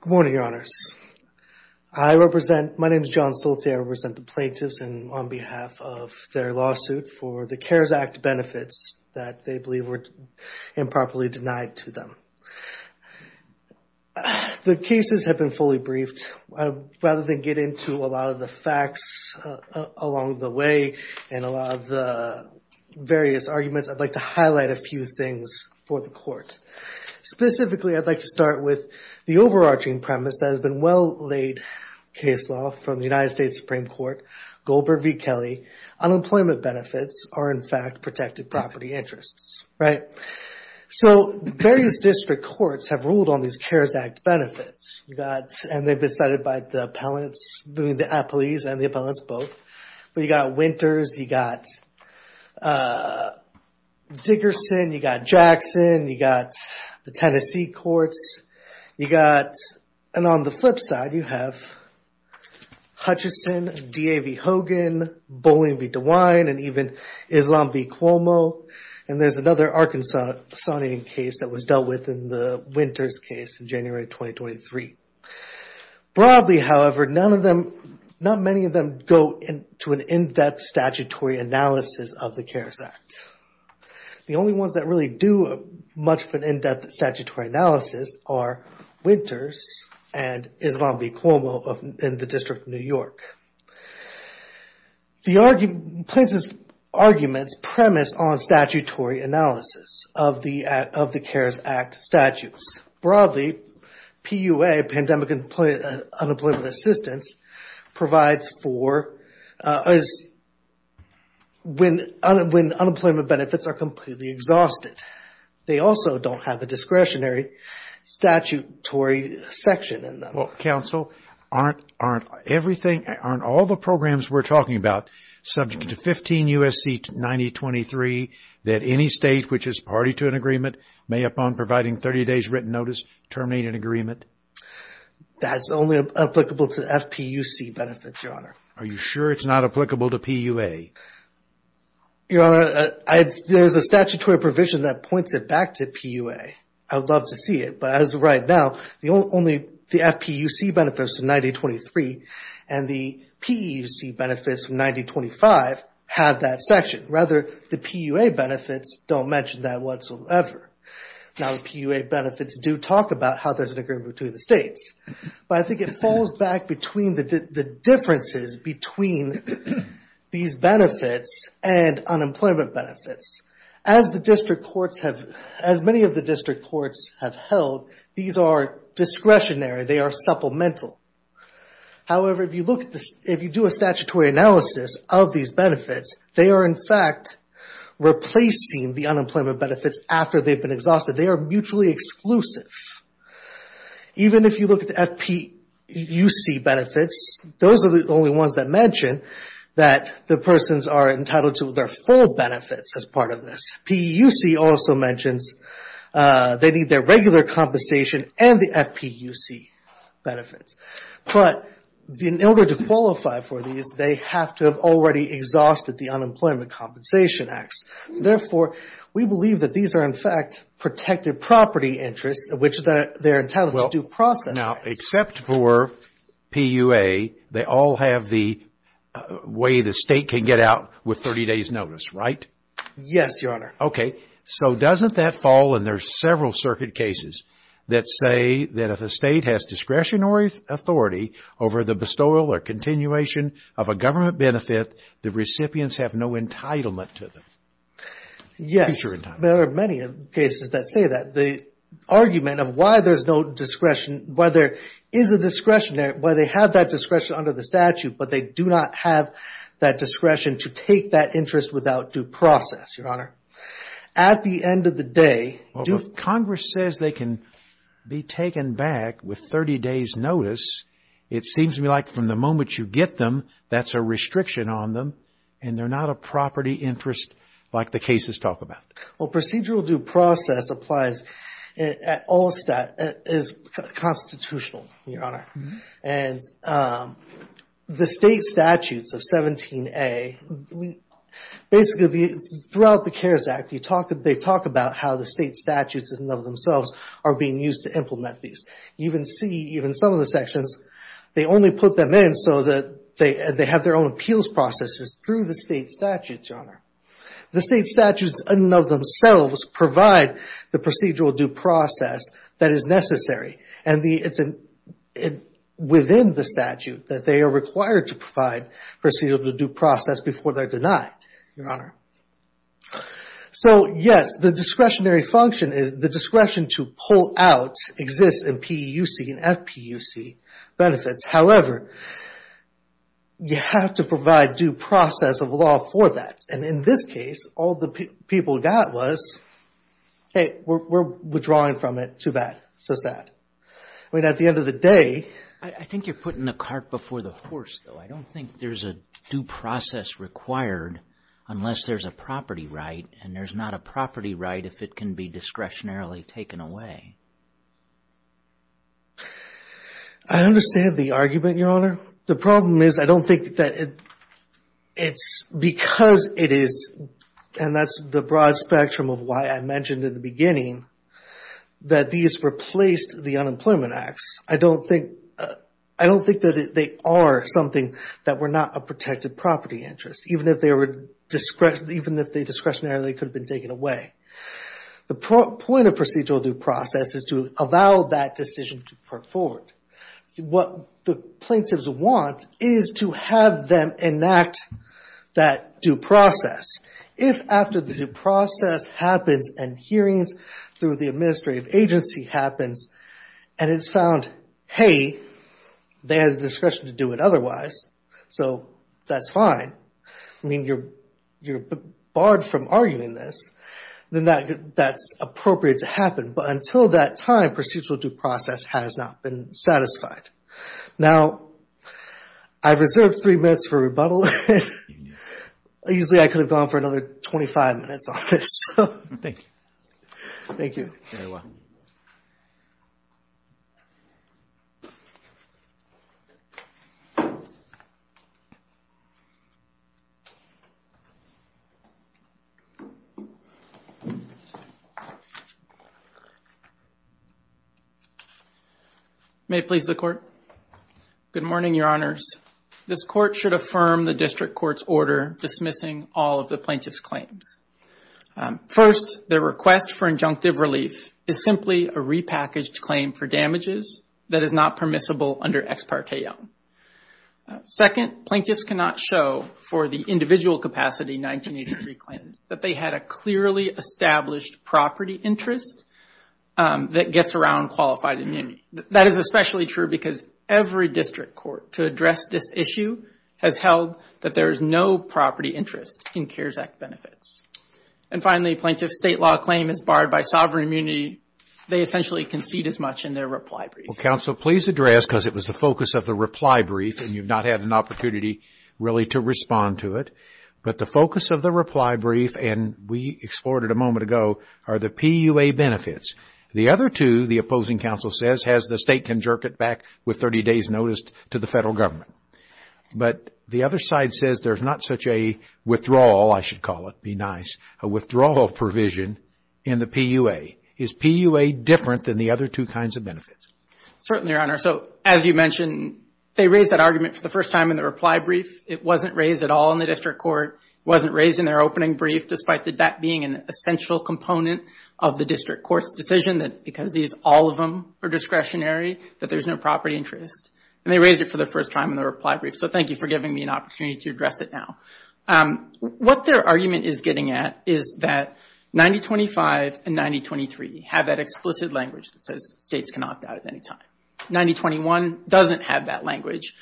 Good morning, Your Honors. My name is John Stolte. I represent the plaintiffs on behalf of their lawsuit for the CARES Act benefits that they believe were improperly denied to them. The cases have been fully briefed. Rather than get into a lot of the facts along the way and a lot of the various arguments, I'd like to highlight a few things for the court. Specifically, I'd like to start with the overarching premise that has been well laid case law from the United States Supreme Court, Goldberg v. Kelly. Unemployment benefits are, in fact, protected property interests. So various district courts have ruled on these CARES Act benefits. And they've decided by the appellants, doing the appellees and the appellants both. But you got Winters. You got Dickerson. You got Jackson. You got the Tennessee courts. And on the flip side, you have Hutchison, DA v. Hogan, Boling v. DeWine, and even Islam v. Cuomo. And there's another Arkansas case that was dealt with in the Winters case in January of 2023. Broadly, however, not many of them go to an in-depth statutory analysis of the CARES Act. The only ones that really do much of an in-depth statutory analysis are Winters and Islam v. Cuomo in the District of New York. The plaintiff's arguments premise on statutory analysis of the CARES Act statutes. Broadly, PUA, Pandemic Unemployment Assistance, provides for when unemployment benefits are completely exhausted. They also don't have a discretionary statutory section in them. Well, counsel, aren't all the programs we're talking about subject to 15 U.S.C. 9023 that any state which is party to an agreement may, upon providing 30 days written notice, terminate an agreement? That's only applicable to FPUC benefits, Your Honor. Are you sure it's not applicable to PUA? Your Honor, there's a statutory provision that points it back to PUA. I would love to see it. But as of right now, only the FPUC benefits of 9023 and the PEUC benefits of 9025 have that section. Rather, the PUA benefits don't mention that whatsoever. Now, the PUA benefits do talk about how there's an agreement between the states. But I think it falls back between the differences between these benefits and unemployment benefits. As many of the district courts have held, these are discretionary. They are supplemental. However, if you do a statutory analysis of these benefits, they are, in fact, replacing the unemployment benefits after they've been exhausted. They are mutually exclusive. Even if you look at the FPUC benefits, those are the only ones that mention that the persons are entitled to their full benefits as part of this. PEUC also mentions they need their regular compensation and the FPUC benefits. But in order to qualify for these, they have to have already exhausted the Unemployment Compensation Acts. So therefore, we believe that these are, in fact, protected property interests, which they're entitled to due process rights. Now, except for PUA, they all have the way the state can get out with 30 days notice, right? Yes, Your Honor. Okay. So doesn't that fall, and there's several circuit cases that say that if a state has discretionary authority over the bestowal or continuation of a government benefit, the recipients have no entitlement to them? Yes. There are many cases that say that. The argument of why there's no discretion, why there is a discretionary, why they have that discretion under the statute, but they do not have that discretion to take that interest without due process, Your Honor. At the end of the day, do... If Congress says they can be taken back with 30 days notice, it seems to me like from the moment you get them, that's a restriction on them, and they're not a property interest like the cases talk about. Well, procedural due process applies at all stat, is constitutional, Your Honor. And the state statutes of 17A, basically, throughout the CARES Act, they talk about how the state statutes in and of themselves are being used to implement these. You can see, even some of the sections, they only put them in so that they have their own appeals processes through the state statutes, Your Honor. The state statutes in and of themselves provide the procedural due process that is necessary, and it's within the statute that they are required to provide procedural due process before they're denied, Your Honor. So, yes, the discretionary function is, the discretion to pull out exists in PEUC and FPUC benefits. However, you have to provide due process of law for that. And in this case, all the people got was, hey, we're withdrawing from it, too bad, so sad. I mean, at the end of the day... I think you're putting the cart before the horse, though. I don't think there's a due process required unless there's a property right, and there's not a property right if it can be discretionarily taken away. I understand the argument, Your Honor. The problem is, I don't think that it's because it is, and that's the broad spectrum of why I mentioned in the beginning that these replaced the Unemployment Acts. I don't think that they are something that were not a protected property interest, even if they discretionarily could have been taken away. The point of procedural due process is to allow that decision to be put forward. What the plaintiffs want is to have them enact that due process. If after the due process happens, and hearings through the administrative agency happens, and it's found, hey, they had the discretion to do it otherwise, so that's fine. I mean, you're barred from arguing this, then that's appropriate to happen. But until that time, procedural due process has not been satisfied. Now, I've reserved three minutes for rebuttal. Usually I could have gone for another 25 minutes on this. Thank you. Thank you. Very well. May it please the court. Good morning, your honors. This court should affirm the district court's order dismissing all of the plaintiff's claims. First, their request for injunctive relief is simply a repackaged claim for damages that is not permissible under Ex parte Young. Second, plaintiffs cannot show for the individual capacity 1983 claims that they had a clearly established property interest that gets around qualified immunity. That is especially true because every district court to address this issue has held that there is no property interest in CARES Act benefits. And finally, a plaintiff's state law claim is barred by sovereign immunity. They essentially concede as much in their reply brief. Well, counsel, please address, because it was the focus of the reply brief and you've not had an opportunity really to respond to it. But the focus of the reply brief, and we explored it a moment ago, are the PUA benefits. The other two, the opposing counsel says, has the state conjure it back with 30 days' notice to the federal government. But the other side says there's not such a withdrawal, I should call it, be nice, a withdrawal provision in the PUA. Is PUA different than the other two kinds of benefits? Certainly, your honor. As you mentioned, they raised that argument for the first time in the reply brief. It wasn't raised at all in the district court, wasn't raised in their opening brief, despite that being an essential component of the district court's decision that because all of them are discretionary, that there's no property interest. And they raised it for the first time in the reply brief. So thank you for giving me an opportunity to address it now. What their argument is getting at is that 9025 and 9023 have that explicit language that says states can opt out at any time. 9021 doesn't have that language,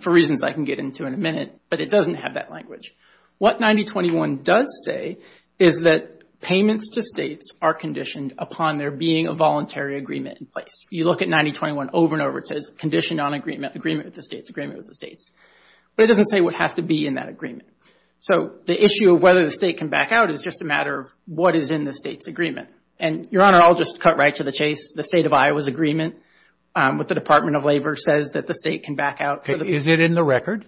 for reasons I can get into in a minute, but it doesn't have that language. What 9021 does say is that payments to states are conditioned upon there being a voluntary agreement in place. You look at 9021 over and over, it says conditioned on agreement with the states, agreement with the states. But it doesn't say what has to be in that agreement. So the issue of whether the state can back out is just a matter of what is in the state's agreement. And your honor, I'll just cut right to the chase. The state of Iowa's agreement with the Department of Labor says that the state can back out. Is it in the record?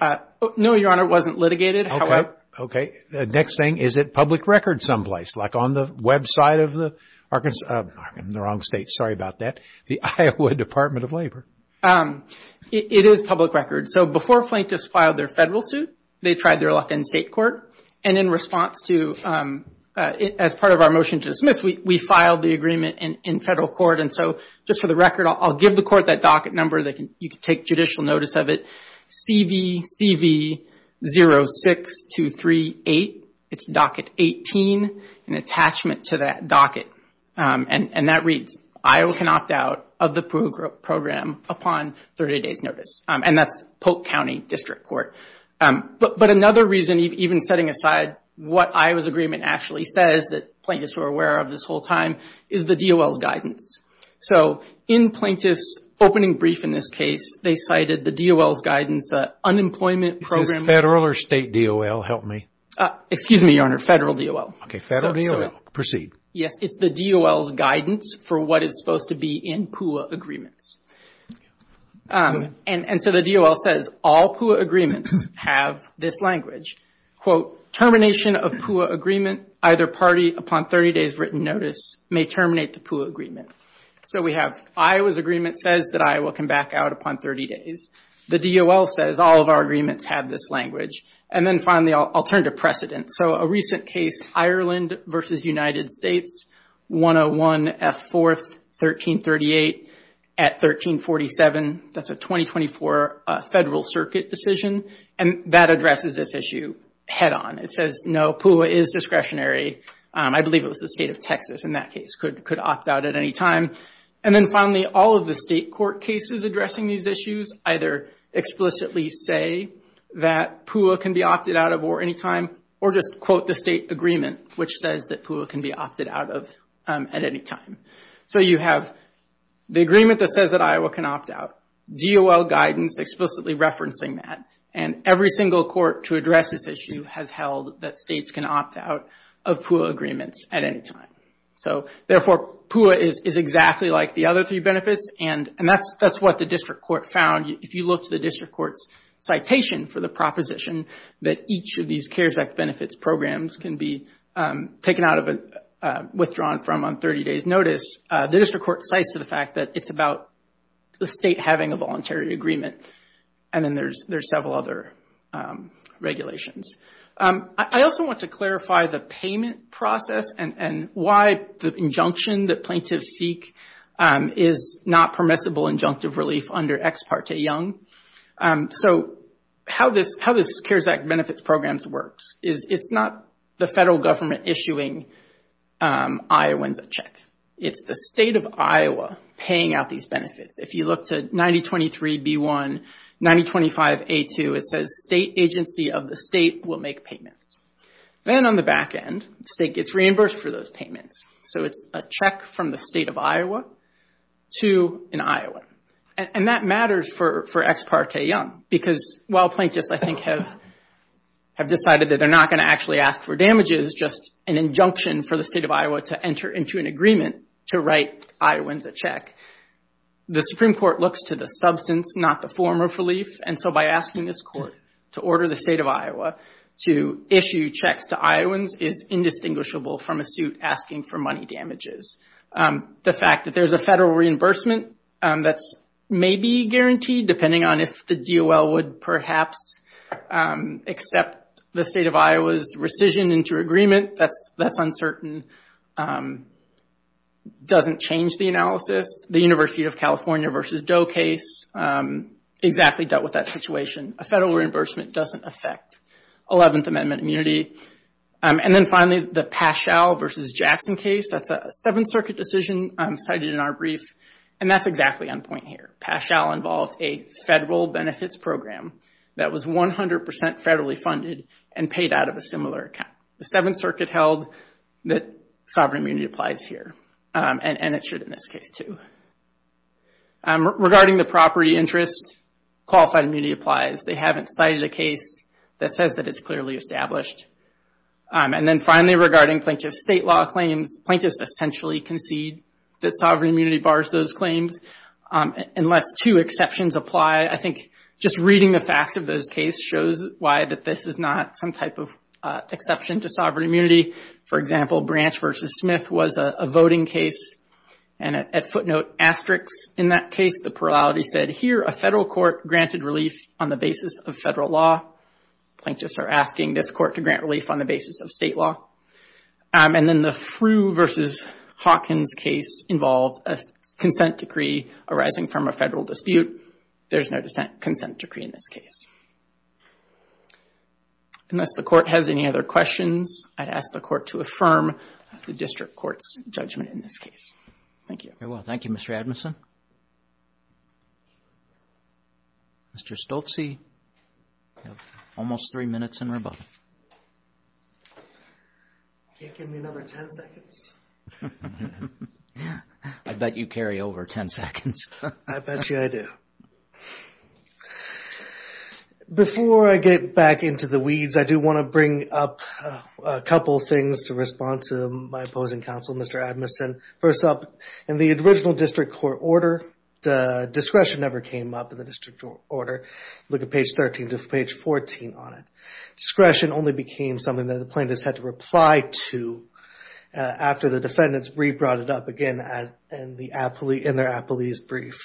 No, your honor, it wasn't litigated, however. Okay, the next thing, is it public record someplace? Like on the website of the Arkansas, in the wrong state, sorry about that. The Iowa Department of Labor. It is public record. So before plaintiffs filed their federal suit, they tried their luck in state court. And in response to, as part of our motion to dismiss, we filed the agreement in federal court. And so, just for the record, I'll give the court that docket number that you can take judicial notice of it. CVCV06238, it's docket 18, an attachment to that docket. And that reads, Iowa can opt out of the program upon 30 days notice. And that's Polk County District Court. But another reason, even setting aside what Iowa's agreement actually says that plaintiffs were aware of this whole time, is the DOL's guidance. So, in plaintiff's opening brief in this case, they cited the DOL's guidance, the unemployment program. Is this federal or state DOL? Help me. Excuse me, your honor, federal DOL. Okay, federal DOL, proceed. Yes, it's the DOL's guidance for what is supposed to be in PUA agreements. And so the DOL says, all PUA agreements have this language. Quote, termination of PUA agreement, either party upon 30 days written notice may terminate the PUA agreement. So we have Iowa's agreement says that Iowa can back out upon 30 days. The DOL says, all of our agreements have this language. And then finally, alternative precedent. So a recent case, Ireland versus United States, 101F4, 1338 at 1347. That's a 2024 federal circuit decision. And that addresses this issue head on. It says, no, PUA is discretionary. I believe it was the state of Texas in that case, could opt out at any time. And then finally, all of the state court cases addressing these issues either explicitly say that PUA can be opted out of or anytime, or just quote the state agreement, which says that PUA can be opted out of at any time. So you have the agreement that says that Iowa can opt out, DOL guidance explicitly referencing that, and every single court to address this issue has held that states can opt out of PUA agreements at any time. So therefore, PUA is exactly like the other three benefits, and that's what the district court found. If you look to the district court's citation for the proposition that each of these CARES Act benefits programs can be taken out of, withdrawn from on 30 days notice, the district court cites the fact that it's about the state having a voluntary agreement, and then there's several other regulations. I also want to clarify the payment process and why the injunction that plaintiffs seek is not permissible injunctive relief under Ex Parte Young. So how this CARES Act benefits programs works is it's not the federal government issuing Iowans a check. It's the state of Iowa paying out these benefits. If you look to 9023B1, 9025A2, it says state agency of the state will make payments. Then on the back end, the state gets reimbursed for those payments. So it's a check from the state of Iowa to an Iowan, and that matters for Ex Parte Young because while plaintiffs I think have decided that they're not going to actually ask for damages, just an injunction for the state of Iowa to enter into an agreement to write Iowans a check, the Supreme Court looks to the substance, not the form of relief, and so by asking this court to order the state of Iowa to issue checks to Iowans is indistinguishable from a suit asking for money damages. The fact that there's a federal reimbursement that's maybe guaranteed depending on if the DOL would perhaps accept the state of Iowa's rescission into agreement, that's uncertain. The DOL decision doesn't change the analysis. The University of California versus Doe case exactly dealt with that situation. A federal reimbursement doesn't affect 11th Amendment immunity. And then finally, the Paschall versus Jackson case, that's a Seventh Circuit decision cited in our brief, and that's exactly on point here. Paschall involved a federal benefits program that was 100% federally funded and paid out of a similar account. The Seventh Circuit held that sovereign immunity applies here, and it should in this case, too. Regarding the property interest, qualified immunity applies. They haven't cited a case that says that it's clearly established. And then finally, regarding plaintiff's state law claims, plaintiffs essentially concede that sovereign immunity bars those claims unless two exceptions apply. I think just reading the facts of those case shows why that this is not some type of exception to sovereign immunity. For example, Branch versus Smith was a voting case. And at footnote asterisk in that case, the plurality said, here, a federal court granted relief on the basis of federal law. Plaintiffs are asking this court to grant relief on the basis of state law. And then the Frueh versus Hawkins case involved a consent decree arising from a federal dispute. There's no consent decree in this case. Unless the court has any other questions, I'd ask the court to affirm the district court's judgment in this case. Thank you. Very well, thank you, Mr. Admeson. Mr. Stolze, you have almost three minutes in rebuttal. Can't give me another 10 seconds. I bet you carry over 10 seconds. I bet you I do. Before I get back into the weeds, I do want to bring up a couple things to respond to my opposing counsel, Mr. Admeson. First up, in the original district court order, the discretion never came up in the district court order. Look at page 13 to page 14 on it. Discretion only became something that the plaintiffs had to reply to after the defendants re-brought it up, again, in their appellee's brief.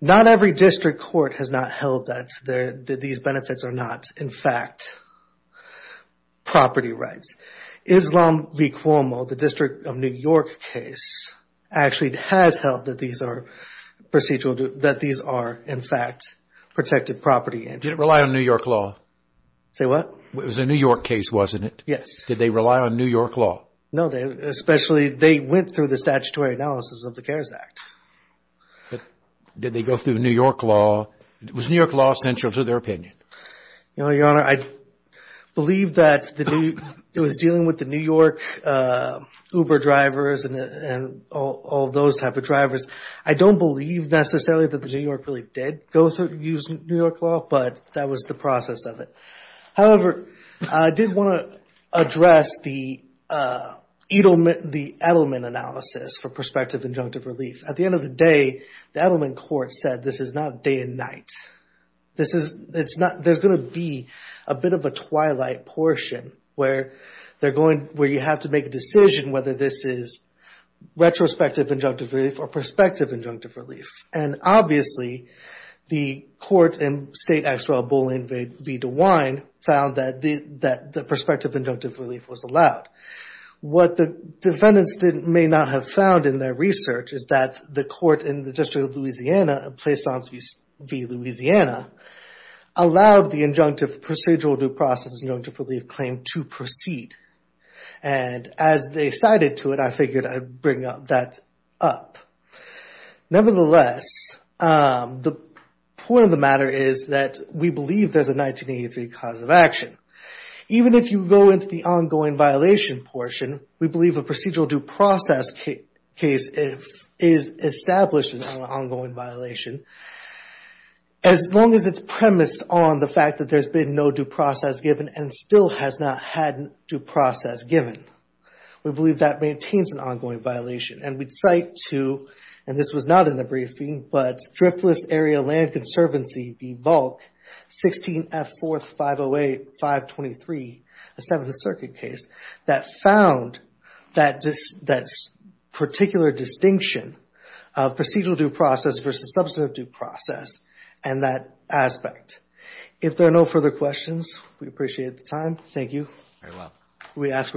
Not every district court has not held that these benefits are not, in fact, property rights. Islam v. Cuomo, the District of New York case, actually has held that these are procedural, that these are, in fact, protected property interests. Did it rely on New York law? Say what? It was a New York case, wasn't it? Yes. Did they rely on New York law? No, especially, they went through the statutory analysis of the CARES Act. Did they go through New York law? Was New York law essential to their opinion? No, Your Honor, I believe that it was dealing with the New York Uber drivers and all those type of drivers. I don't believe, necessarily, that the New York really did go through and use New York law, but that was the process of it. However, I did want to address the Edelman analysis for prospective injunctive relief. At the end of the day, the Edelman court said, this is not day and night. There's gonna be a bit of a twilight portion where you have to make a decision whether this is retrospective injunctive relief or prospective injunctive relief. Obviously, the court in State Actual Bullying v. DeWine found that the prospective injunctive relief was allowed. What the defendants may not have found in their research is that the court in the District of Louisiana, Plaisance v. Louisiana, allowed the injunctive procedural due process injunctive relief claim to proceed. As they cited to it, I figured I'd bring that up. Nevertheless, the point of the matter is that we believe there's a 1983 cause of action. Even if you go into the ongoing violation portion, we believe a procedural due process case is established as an ongoing violation as long as it's premised on the fact that there's been no due process given and still has not had due process given. We believe that maintains an ongoing violation. And we cite to, and this was not in the briefing, but Driftless Area Land Conservancy v. Volk, 16F 4th 508-523, a Seventh Circuit case, that found that particular distinction of procedural due process versus substantive due process and that aspect. If there are no further questions, we appreciate the time. Thank you. Very well. We ask for your.